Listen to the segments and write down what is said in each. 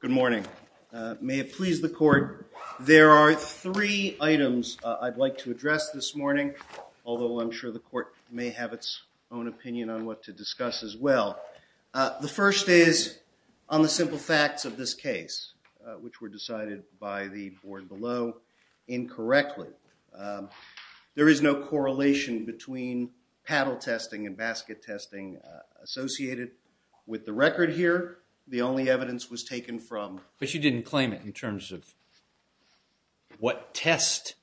Good morning. May it please the court, there are three items I'd like to address this morning, although I'm sure the court may have its own opinion on what to discuss as well. The first is on the simple facts of this case, which were decided by the board below incorrectly. There is no correlation between paddle testing and basket testing associated with the record here. The only evidence was taken from... But you didn't claim it in terms of what test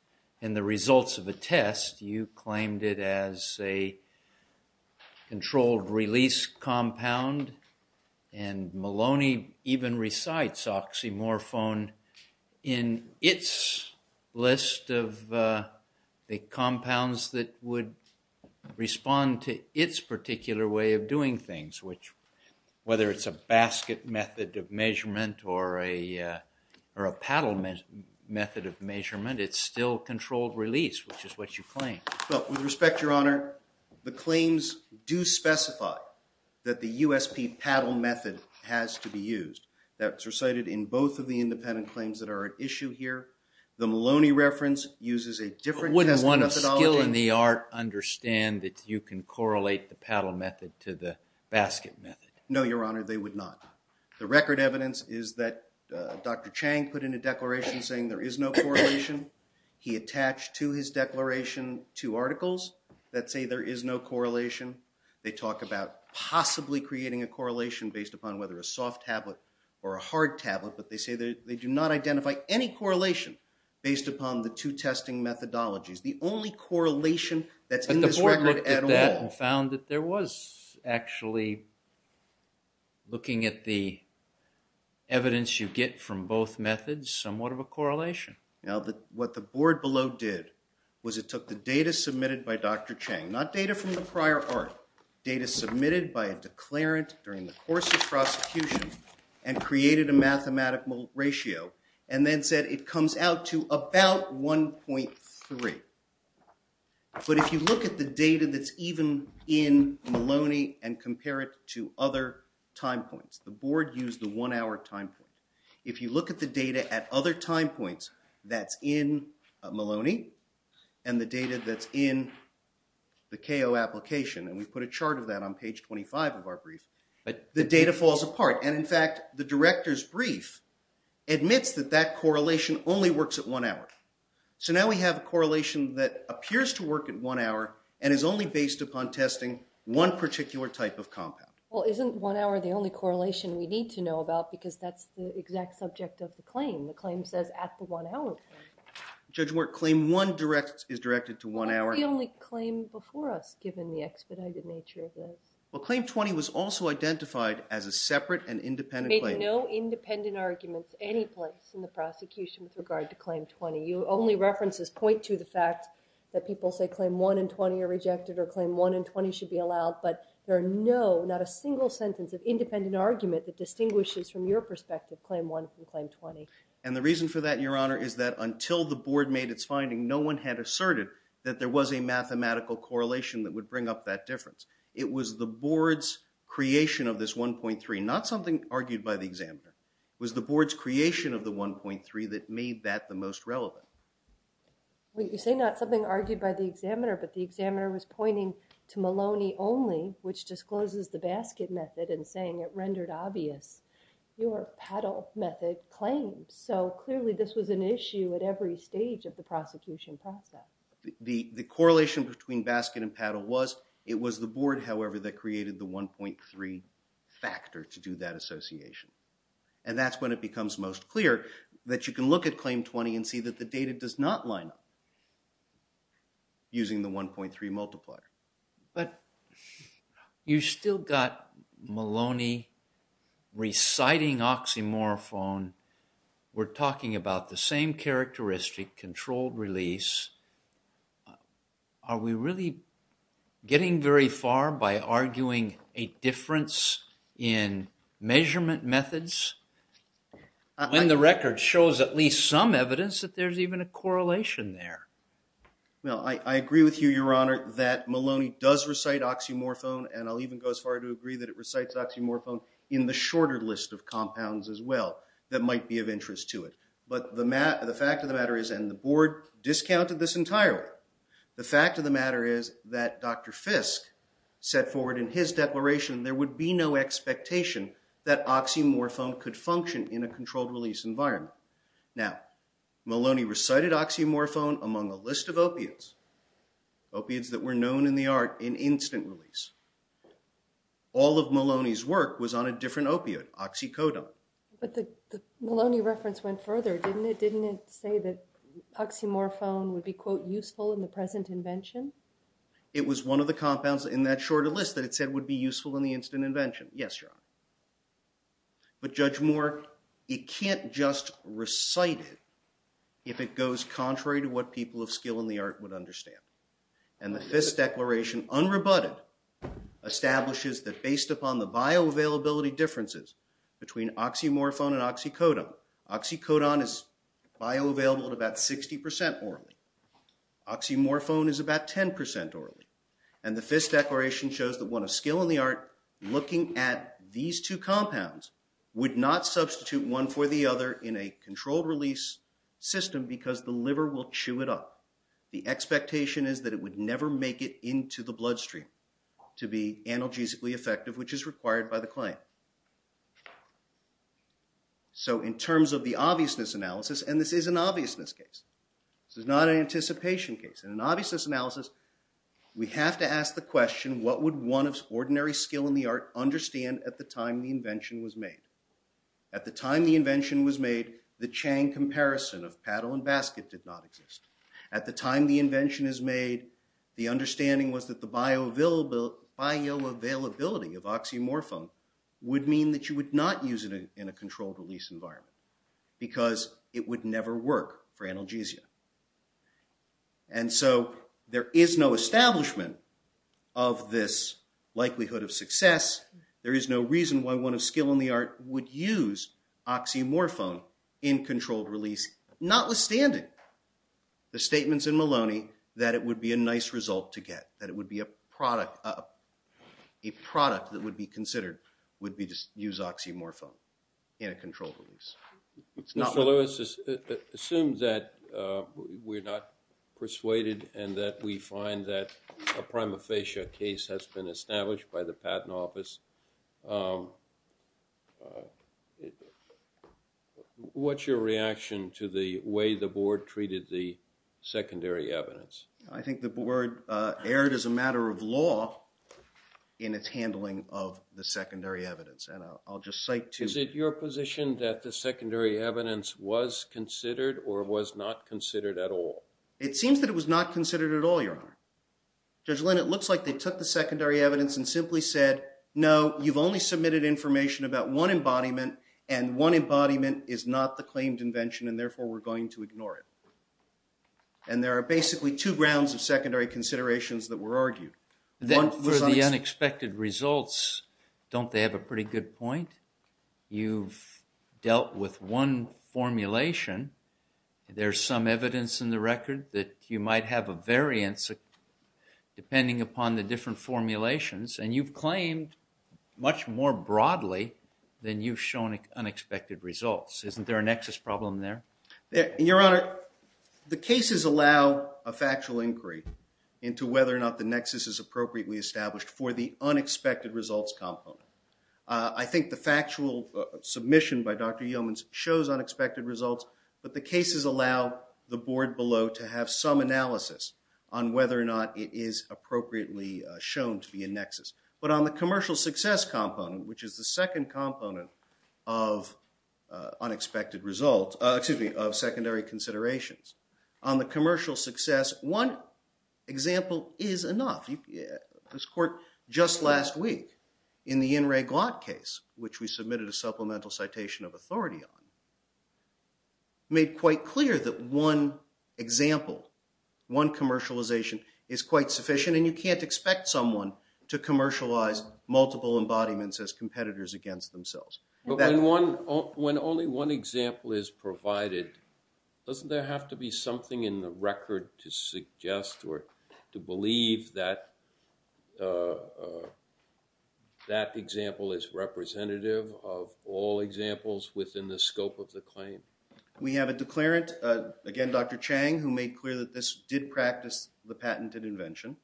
and the results of a test, you claimed it as a controlled release compound, and Maloney even recites oxymorphone in its list of the compounds that would respond to its particular way of doing things, which whether it's a basket method of measurement or a paddle method of measurement, it's still controlled release, which is what you claim. Well, with respect, Your Honor, the claims do specify that the USP paddle method has to be used. That's recited in both of the independent claims that are at issue here. The Maloney reference uses a different... Wouldn't one of skill in the art understand that you can correlate the paddle method to the basket method? No, Your Honor, they would not. The record evidence is that Dr. Chang put in a declaration saying there is no correlation. He attached to his declaration two articles that say there is no correlation. They talk about possibly creating a correlation based upon whether a soft tablet or a hard tablet, but they say that they do not identify any correlation based upon the two testing methodologies. The only correlation that's in this record at all... But the board looked at that and found that there was actually, looking at the evidence you get from both methods, somewhat of a correlation. Now, what the board below did was it took the data submitted by Dr. Chang, not data from the prior art, data submitted by a declarant during the course of prosecution and created a Maloney and compare it to other time points. The board used the one hour time point. If you look at the data at other time points that's in Maloney and the data that's in the KO application, and we put a chart of that on page 25 of our brief, the data falls apart. And in fact, the director's brief admits that that correlation only works at one hour. So now we have a correlation that appears to work at one hour and is only based upon testing one particular type of compound. Well, isn't one hour the only correlation we need to know about because that's the exact subject of the claim. The claim says at the one hour point. Judge Wirt, claim one is directed to one hour. The only claim before us, given the expedited nature of this. Well, claim 20 was also identified as a separate and independent claim. There are no independent arguments any place in the prosecution with regard to claim 20. You only references point to the fact that people say claim one and 20 are rejected or claim one and 20 should be allowed. But there are no, not a single sentence of independent argument that distinguishes from your perspective, claim one and claim 20. And the reason for that, your honor, is that until the board made its finding, no one had asserted that there was a mathematical correlation that would bring up that difference. It was the board's creation of this 1.3, not something argued by the examiner, was the board's creation of the 1.3 that made that the most relevant. Well, you say not something argued by the examiner, but the examiner was pointing to Maloney only, which discloses the basket method and saying it rendered obvious your paddle method claims. So clearly this was an issue at every stage of the prosecution process. The correlation between basket and paddle was, it was the board, however, that created the 1.3 factor to do that association. And that's when it becomes most clear that you can look at claim 20 and see that the data does not line up using the 1.3 multiplier. But you still got Maloney reciting oxymorphone. We're talking about the same characteristic, controlled release. Are we really getting very far by arguing a difference in measurement methods when the record shows at least some evidence that there's even a correlation there? Well, I agree with you, your honor, that Maloney does recite oxymorphone, and I'll even go as far to agree that it recites oxymorphone in the shorter list of compounds as well that might be of interest to it. But the fact of the matter is, and the board discounted this entirely, the fact of the matter is that Dr. Fisk set forward in his declaration there would be no expectation that oxymorphone could function in a controlled release environment. Now, Maloney recited oxymorphone among a list of opiates, opiates that were known in the art in instant release. All of Maloney's work was on a different opiate, oxycodone. But the Maloney reference went further, didn't it? Didn't it say that oxymorphone would be, quote, useful in the present invention? It was one of the compounds in that shorter list that it said would be useful in the instant invention. Yes, your honor. But Judge Moore, it can't just recite it if it goes contrary to what people of skill in the art would understand. And the Fisk declaration, unrebutted, establishes that based upon the bioavailability differences between oxymorphone and oxycodone, oxycodone is bioavailable at about 60% orally. Oxymorphone is about 10% orally. And the Fisk declaration shows that one of skill in the art, looking at these two compounds, would not substitute one for the other in a controlled release system because the liver will chew it up. The expectation is that it would never make it into the bloodstream to be analgesically effective, which is required by the client. So in terms of the obviousness analysis, and this is an obviousness case, this is not an anticipation case. In an obviousness analysis, we have to ask the question, what would one of ordinary skill in the art understand at the time the invention was made? At the time the invention was made, the Chang comparison of paddle and basket did not exist. At the time the invention is made, the understanding was that the bioavailability of oxymorphone would mean that you would not use it in a controlled release environment because it would never work for analgesia. And so there is no establishment of this likelihood of success. There is no reason why one of skill in the art would use oxymorphone in controlled release, notwithstanding the statements in Maloney that it would be a nice result to get, that it would be a product that would be considered would be to use oxymorphone in a controlled release. Mr. Lewis, assume that we're not persuaded and that we find that a prima facie case has been established by the patent office. What's your reaction to the way the board treated the secondary evidence? I think the board erred as a matter of law in its handling of the secondary evidence. Is it your position that the secondary evidence was considered or was not considered at all? It seems that it was not considered at all, Your Honor. Judge Lynn, it looks like they took the secondary evidence and simply said, no, you've only submitted information about one embodiment and one embodiment is not the claimed invention and therefore we're going to ignore it. And there are basically two grounds of secondary considerations that were argued. Then for the unexpected results, don't they have a pretty good point? You've dealt with one formulation. There's some evidence in the record that you might have a variance depending upon the different formulations and you've claimed much more broadly than you've shown unexpected results. Isn't there a nexus problem there? Your Honor, the cases allow a factual inquiry into whether or not the nexus is appropriately established for the unexpected results component. I think the factual submission by Dr. Yeomans shows unexpected results, but the cases allow the board below to have some analysis on whether or not it is appropriately shown to be a nexus. But on the commercial success component, which is the second component of secondary considerations, on the commercial success, one example is enough. This court, just last week, in the In re Glant case, which we submitted a supplemental citation of authority on, made quite clear that one example, one commercialization, is quite sufficient and you can't expect someone to commercialize multiple embodiments as competitors against themselves. But when only one example is provided, doesn't there have to be something in the record to suggest or to believe that that example is representative of all examples within the scope of the claim? We have a declarant, again Dr. Chang, who made clear that this did practice the patented invention.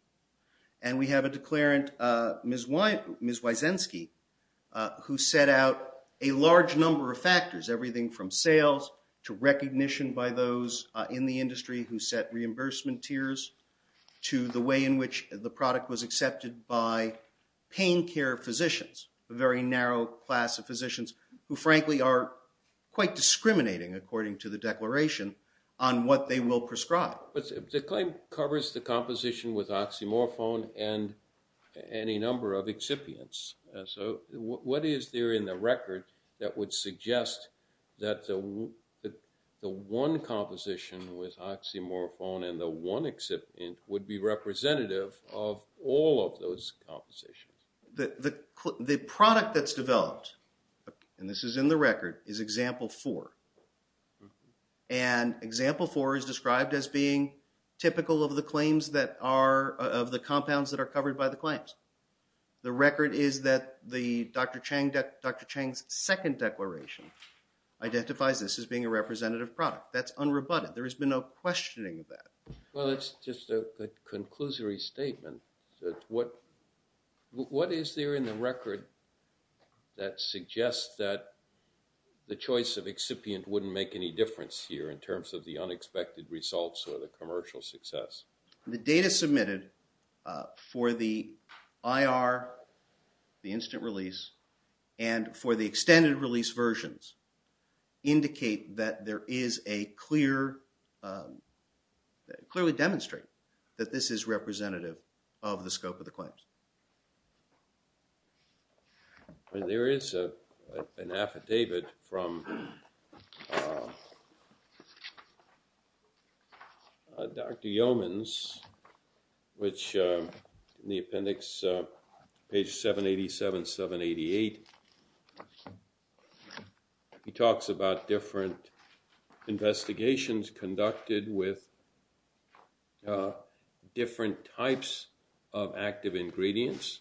And we have a declarant, Ms. Wysensky, who set out a large number of factors, everything from sales to recognition by those in the industry who set reimbursement tiers, to the way in which the product was accepted by pain care physicians, a very narrow class of physicians who frankly are quite discriminating, according to the declaration, on what they will prescribe. The claim covers the composition with oxymorphone and any number of excipients, so what is there in the record that would suggest that the one composition with oxymorphone and the one excipient would be representative of all of those compositions? The product that's developed, and this is in the record, is example four. And example four is described as being typical of the claims that are, of the compounds that are covered by the claims. The record is that Dr. Chang's second declaration identifies this as being a representative product. That's unrebutted. There has been no questioning of that. Well, it's just a conclusory statement. What is there in the record that suggests that the choice of excipient wouldn't make any difference here in terms of the unexpected results or the commercial success? The data submitted for the IR, the instant release, and for the extended release versions indicate that there is a clear, clearly demonstrate that this is representative of the scope of the claims. And there is an affidavit from Dr. Yeomans, which in the appendix, page 787, 788, he talks about different investigations conducted with different types of active ingredients.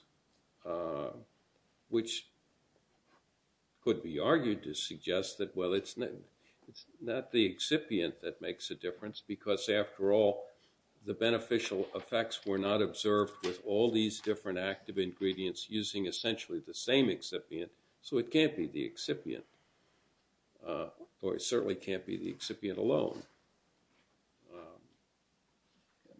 Which could be argued to suggest that, well, it's not the excipient that makes a difference, because after all, the beneficial effects were not observed with all these different active ingredients using essentially the same excipient. So it can't be the excipient. Or it certainly can't be the excipient alone.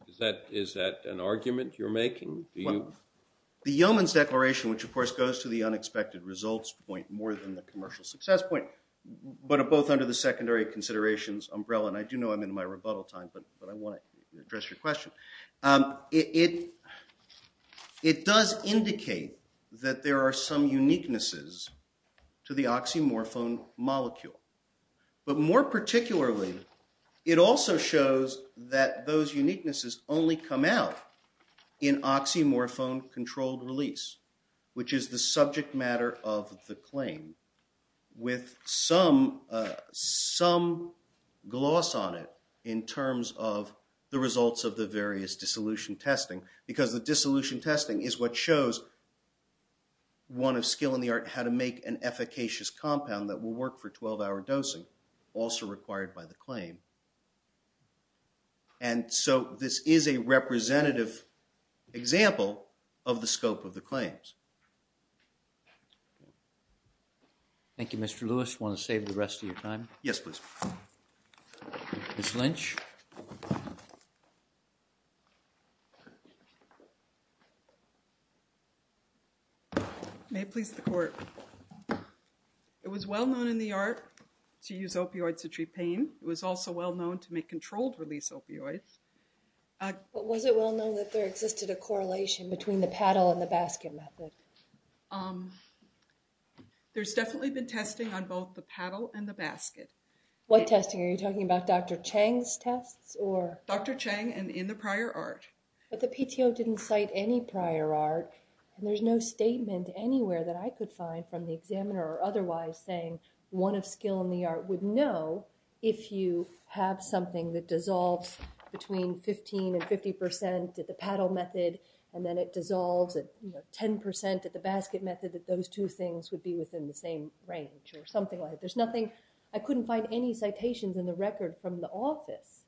Is that an argument you're making? The Yeomans declaration, which of course goes to the unexpected results point more than the commercial success point, but both under the secondary considerations umbrella, and I do know I'm in my rebuttal time, but I want to address your question. It does indicate that there are some uniquenesses to the oxymorphone molecule. But more particularly, it also shows that those uniquenesses only come out in oxymorphone-controlled release, which is the subject matter of the claim with some gloss on it in terms of the results of the various dissolution testing. Because the dissolution testing is what shows one of skill in the art how to make an efficacious compound that will work for 12-hour dosing, also required by the claim. And so this is a representative example of the scope of the claims. Thank you, Mr. Lewis. Want to save the rest of your time? Yes, please. Ms. Lynch? May it please the court. It was well known in the art to use opioids to treat pain. It was also well known to make controlled release opioids. But was it well known that there existed a correlation between the paddle and the basket method? There's definitely been testing on both the paddle and the basket. What testing? Are you talking about Dr. Chang's tests? Dr. Chang and in the prior art. But the PTO didn't cite any prior art, and there's no statement anywhere that I could find from the examiner or otherwise saying one of skill in the art would know if you have something that dissolves between 15 and 50 percent at the paddle method, and then it dissolves at 10 percent at the basket method, that those two things would be within the same range or something like that. There's nothing, I couldn't find any citations in the record from the office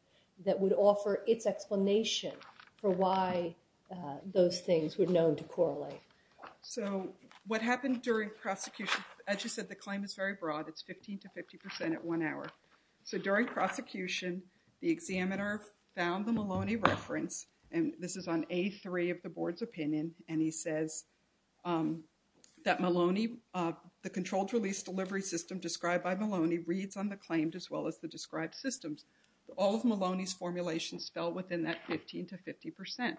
that would offer its explanation for why those things were known to correlate. So what happened during prosecution, as you said, the claim is very broad. It's 15 to 50 percent at one hour. So during prosecution, the examiner found the Maloney reference, and this is on A3 of the board's opinion, and he says that Maloney, the controlled release delivery system described by Maloney reads on the claim as well as the described systems. All of Maloney's formulations fell within that 15 to 50 percent.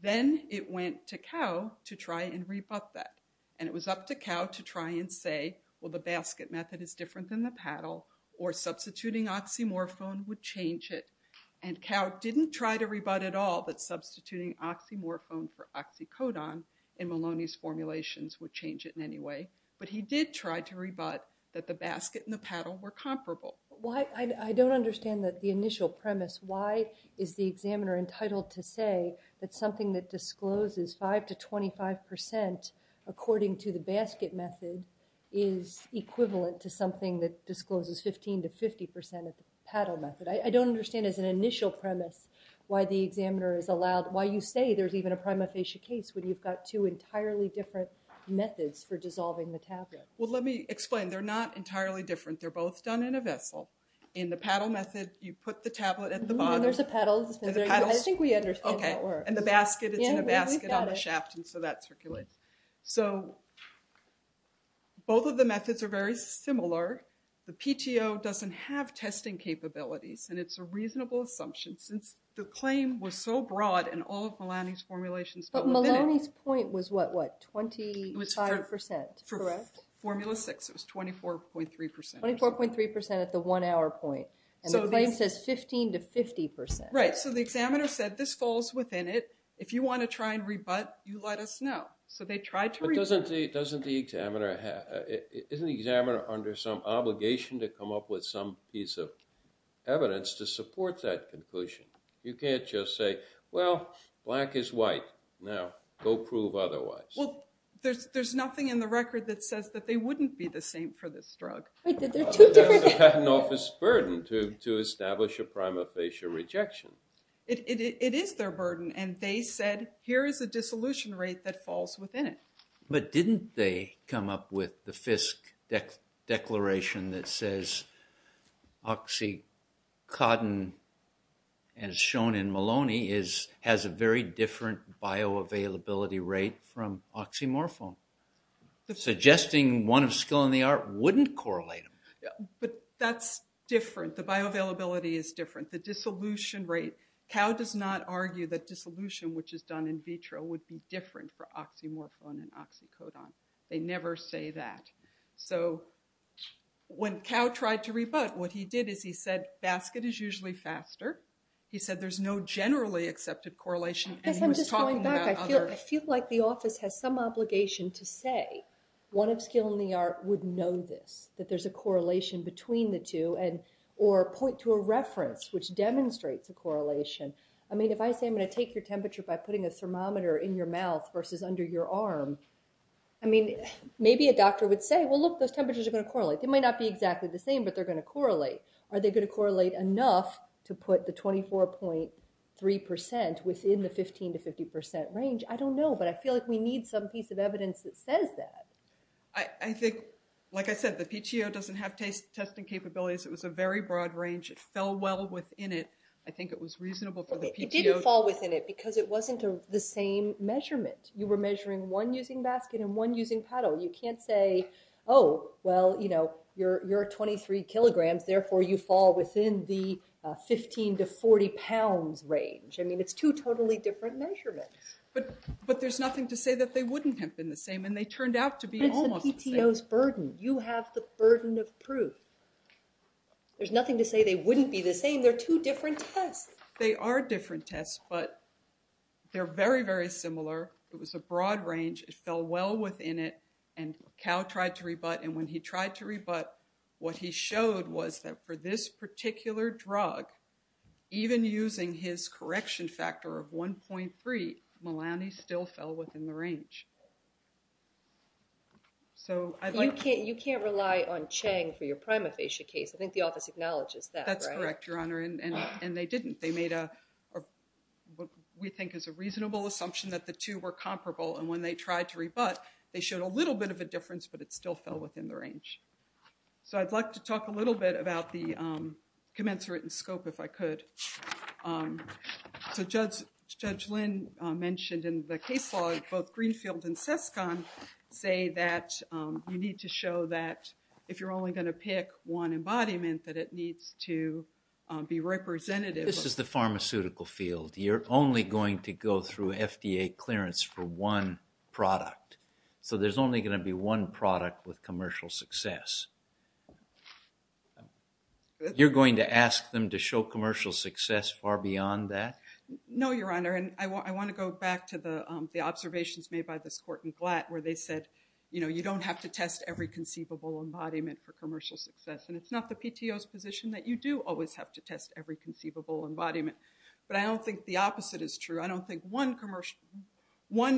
Then it went to Cow to try and rebut that, and it was up to Cow to try and say, well, the basket method is different than the paddle, or substituting oxymorphone would change it. And Cow didn't try to rebut at all that substituting oxymorphone for oxycodone in Maloney's formulations would change it in any way, but he did try to rebut that the basket and the paddle were comparable. I don't understand the initial premise. Why is the examiner entitled to say that something that discloses 5 to 25 percent according to the basket method is equivalent to something that discloses 15 to 50 percent of the paddle method? I don't understand as an initial premise why the examiner is allowed, why you say there's even a prima facie case when you've got two entirely different methods for dissolving the tablet. Well, let me explain. They're not entirely different. They're both done in a vessel. In the paddle method, you put the tablet at the bottom. There's a paddle. I think we understand. Okay, and the basket is in a basket on the shaft, and so that circulates. So, both of the methods are very similar. The PTO doesn't have testing capabilities, and it's a reasonable assumption since the claim was so broad in all of Maloney's formulations. But Maloney's point was what, 25 percent, correct? For Formula 6, it was 24.3 percent. 24.3 percent at the one-hour point, and the claim says 15 to 50 percent. Right, so the examiner said this falls within it. If you want to try and rebut, you let us know. So, they tried to rebut. But doesn't the examiner, isn't the examiner under some obligation to come up with some piece of evidence to support that conclusion? You can't just say, well, black is white. Now, go prove otherwise. Well, there's nothing in the record that says that they wouldn't be the same for this drug. There's a patent office burden to establish a prima facie rejection. It is their burden, and they said, here is a dissolution rate that falls within it. But didn't they come up with the Fisk declaration that says oxycodone, as shown in Maloney, has a very different bioavailability rate from oxymorphone? Suggesting one of skill in the art wouldn't correlate them. But that's different. The bioavailability is different. The dissolution rate, Cow does not argue that dissolution, which is done in vitro, would be different for oxymorphone and oxycodone. They never say that. So, when Cow tried to rebut, what he did is he said, basket is usually faster. He said there's no generally accepted correlation. I feel like the office has some obligation to say, one of skill in the art would know this. That there's a correlation between the two, or point to a reference which demonstrates a correlation. I mean, if I say I'm going to take your temperature by putting a thermometer in your mouth versus under your arm, I mean, maybe a doctor would say, well, look, those temperatures are going to correlate. They might not be exactly the same, but they're going to correlate. Are they going to correlate enough to put the 24.3% within the 15% to 50% range? I don't know, but I feel like we need some piece of evidence that says that. I think, like I said, the PTO doesn't have testing capabilities. It was a very broad range. It fell well within it. I think it was reasonable for the PTO. It didn't fall within it because it wasn't the same measurement. You were measuring one using basket and one using paddle. You can't say, oh, well, you're at 23 kilograms, therefore you fall within the 15 to 40 pounds range. I mean, it's two totally different measurements. But there's nothing to say that they wouldn't have been the same. And they turned out to be almost the same. That's the PTO's burden. You have the burden of proof. There's nothing to say they wouldn't be the same. They're two different tests. They are different tests, but they're very, very similar. It was a broad range. It fell well within it. And Cal tried to rebut. And when he tried to rebut, what he showed was that for this particular drug, even using his correction factor of 1.3, Melani still fell within the range. You can't rely on Chang for your prima facie case. I think the office acknowledges that, right? That's correct, Your Honor. And they didn't. They made what we think is a reasonable assumption that the two were comparable. And when they tried to rebut, they showed a little bit of a difference, but it still fell within the range. So I'd like to talk a little bit about the commensurate and scope, if I could. So Judge Lynn mentioned in the case law, both Greenfield and Sescon say that you need to show that if you're only going to pick one embodiment, that it needs to be representative. This is the pharmaceutical field. You're only going to go through FDA clearance for one product. So there's only going to be one product with commercial success. You're going to ask them to show commercial success far beyond that? No, Your Honor. And I want to go back to the observations made by this court in Glatt where they said, you know, you don't have to test every conceivable embodiment for commercial success. And it's not the PTO's position that you do always have to test every conceivable embodiment. But I don't think the opposite is true. I don't think one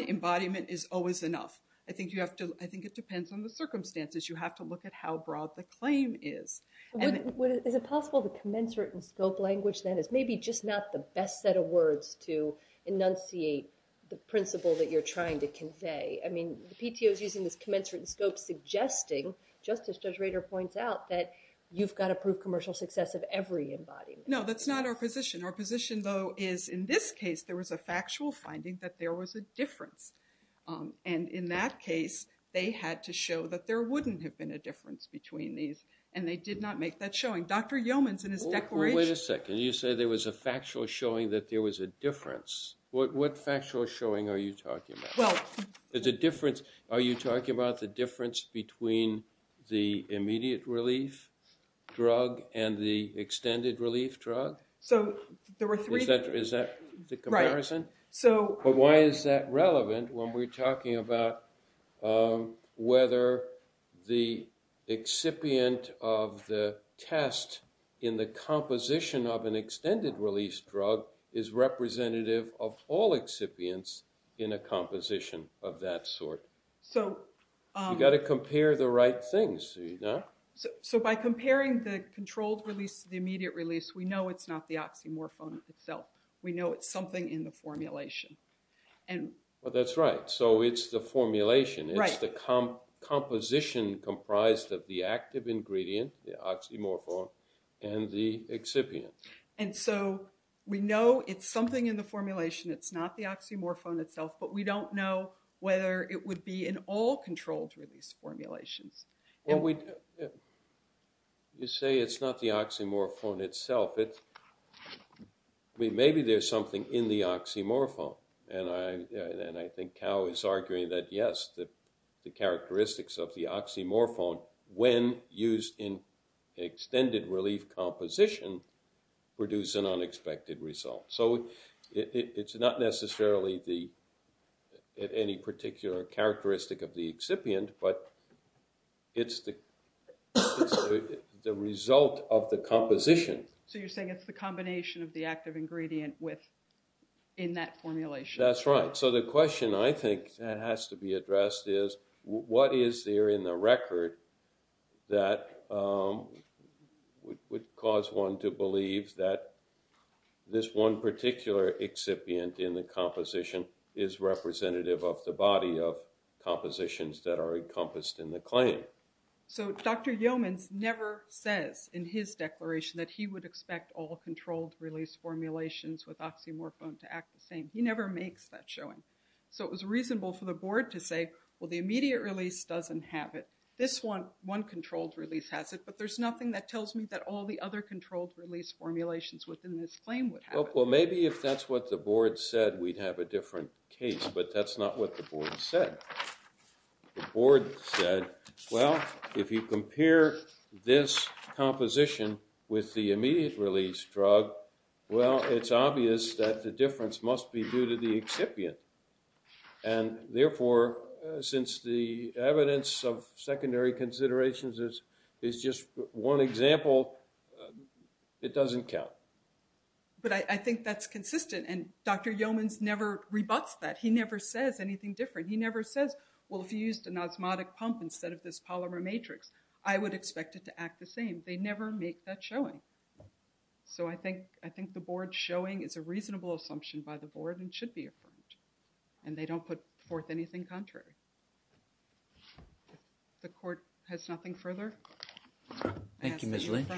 embodiment is always enough. I think it depends on the circumstances. You have to look at how broad the claim is. Is it possible the commensurate and scope language then is maybe just not the best set of words to enunciate the principle that you're trying to convey? I mean, the PTO is using this commensurate and scope suggesting, just as Judge Rader points out, that you've got to prove commercial success of every embodiment. No, that's not our position. Our position, though, is in this case there was a factual finding that there was a difference. And in that case, they had to show that there wouldn't have been a difference between these. And they did not make that showing. Dr. Yeomans in his declaration- Wait a second. You say there was a factual showing that there was a difference. What factual showing are you talking about? Well- Is the difference- are you talking about the difference between the immediate relief drug and the extended relief drug? So there were three- Is that the comparison? Right. But why is that relevant when we're talking about whether the excipient of the test in the composition of an extended relief drug is representative of all excipients in a composition of that sort? So- You've got to compare the right things, do you not? So by comparing the controlled release to the immediate release, we know it's not the oxymorphone itself. We know it's something in the formulation. Well, that's right. So it's the formulation. Right. It's the composition comprised of the active ingredient, the oxymorphone, and the excipient. And so we know it's something in the formulation. It's not the oxymorphone itself. But we don't know whether it would be in all controlled release formulations. Well, you say it's not the oxymorphone itself. Maybe there's something in the oxymorphone. And I think Cal is arguing that, yes, the characteristics of the oxymorphone, when used in extended relief composition, produce an unexpected result. So it's not necessarily any particular characteristic of the excipient, but it's the result of the composition. So you're saying it's the combination of the active ingredient in that formulation? That's right. So the question, I think, that has to be addressed is, what is there in the record that would cause one to believe that this one particular excipient in the composition is representative of the body of compositions that are encompassed in the claim? So Dr. Yeomans never says in his declaration that he would expect all controlled release formulations with oxymorphone to act the same. He never makes that showing. So it was reasonable for the board to say, well, the immediate release doesn't have it. This one, one controlled release has it. But there's nothing that tells me that all the other controlled release formulations within this claim would have it. Well, maybe if that's what the board said, we'd have a different case. But that's not what the board said. The board said, well, if you compare this composition with the immediate release drug, well, it's obvious that the difference must be due to the excipient. And therefore, since the evidence of secondary considerations is just one example, it doesn't count. But I think that's consistent. And Dr. Yeomans never rebuts that. He never says anything different. He never says, well, if you used an osmotic pump instead of this polymer matrix, I would expect it to act the same. They never make that showing. So I think, I think the board showing is a reasonable assumption by the board and should be affirmed. And they don't put forth anything contrary. The court has nothing further. Thank you, Ms. Lynch.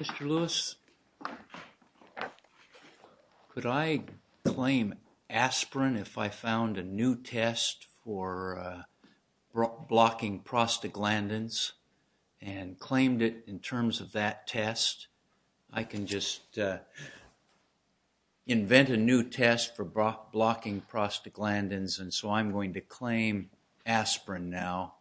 Mr. Lewis, could I claim aspirin if I found a new test for blocking prostaglandins and claimed it in terms of that test? I can just invent a new test for blocking prostaglandins, and so I'm going to claim aspirin now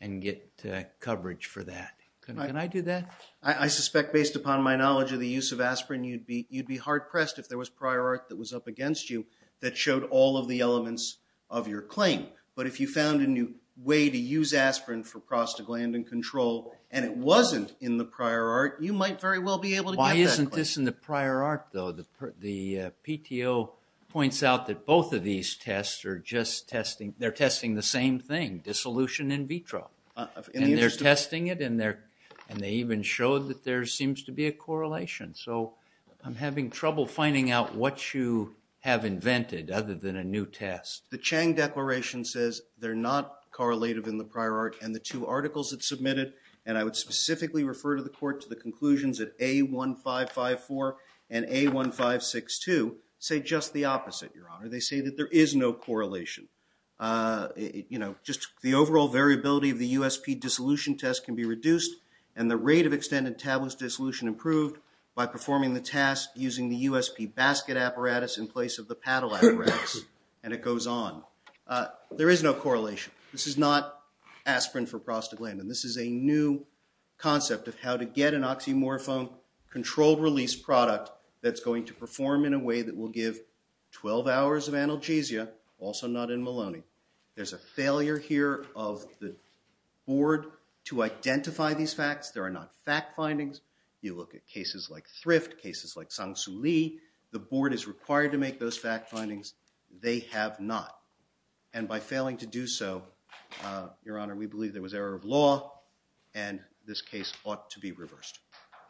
and get coverage for that. Can I do that? I suspect, based upon my knowledge of the use of aspirin, you'd be hard-pressed if there was prior art that was up against you that showed all of the elements of your claim. But if you found a new way to use aspirin for prostaglandin control and it wasn't in the prior art, you might very well be able to get that. Why isn't this in the prior art, though? The PTO points out that both of these tests are just testing, they're testing the same thing, dissolution in vitro. And they're testing it, and they even showed that there seems to be a correlation. So I'm having trouble finding out what you have invented other than a new test. The Chang Declaration says they're not correlative in the prior art. And the two articles it submitted, and I would specifically refer to the court to the conclusions at A1554 and A1562, say just the opposite, Your Honor. They say that there is no correlation. Just the overall variability of the USP dissolution test can be reduced, and the rate of extended tabulous dissolution improved by performing the task using the USP basket apparatus in place of the paddle apparatus, and it goes on. There is no correlation. This is not aspirin for prostaglandin. This is a new concept of how to get an oxymorphone-controlled release product that's going to perform in a way that will give 12 hours of analgesia, also not in Maloney. There's a failure here of the board to identify these facts. There are not fact findings. You look at cases like Thrift, cases like Sang Soo Lee. The board is required to make those fact findings. They have not. And by failing to do so, Your Honor, we believe there was error of law, and this case ought to be reversed.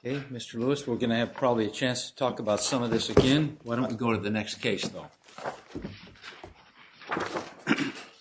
Okay. Mr. Lewis, we're going to have probably a chance to talk about some of this again. Why don't we go to the next case, though?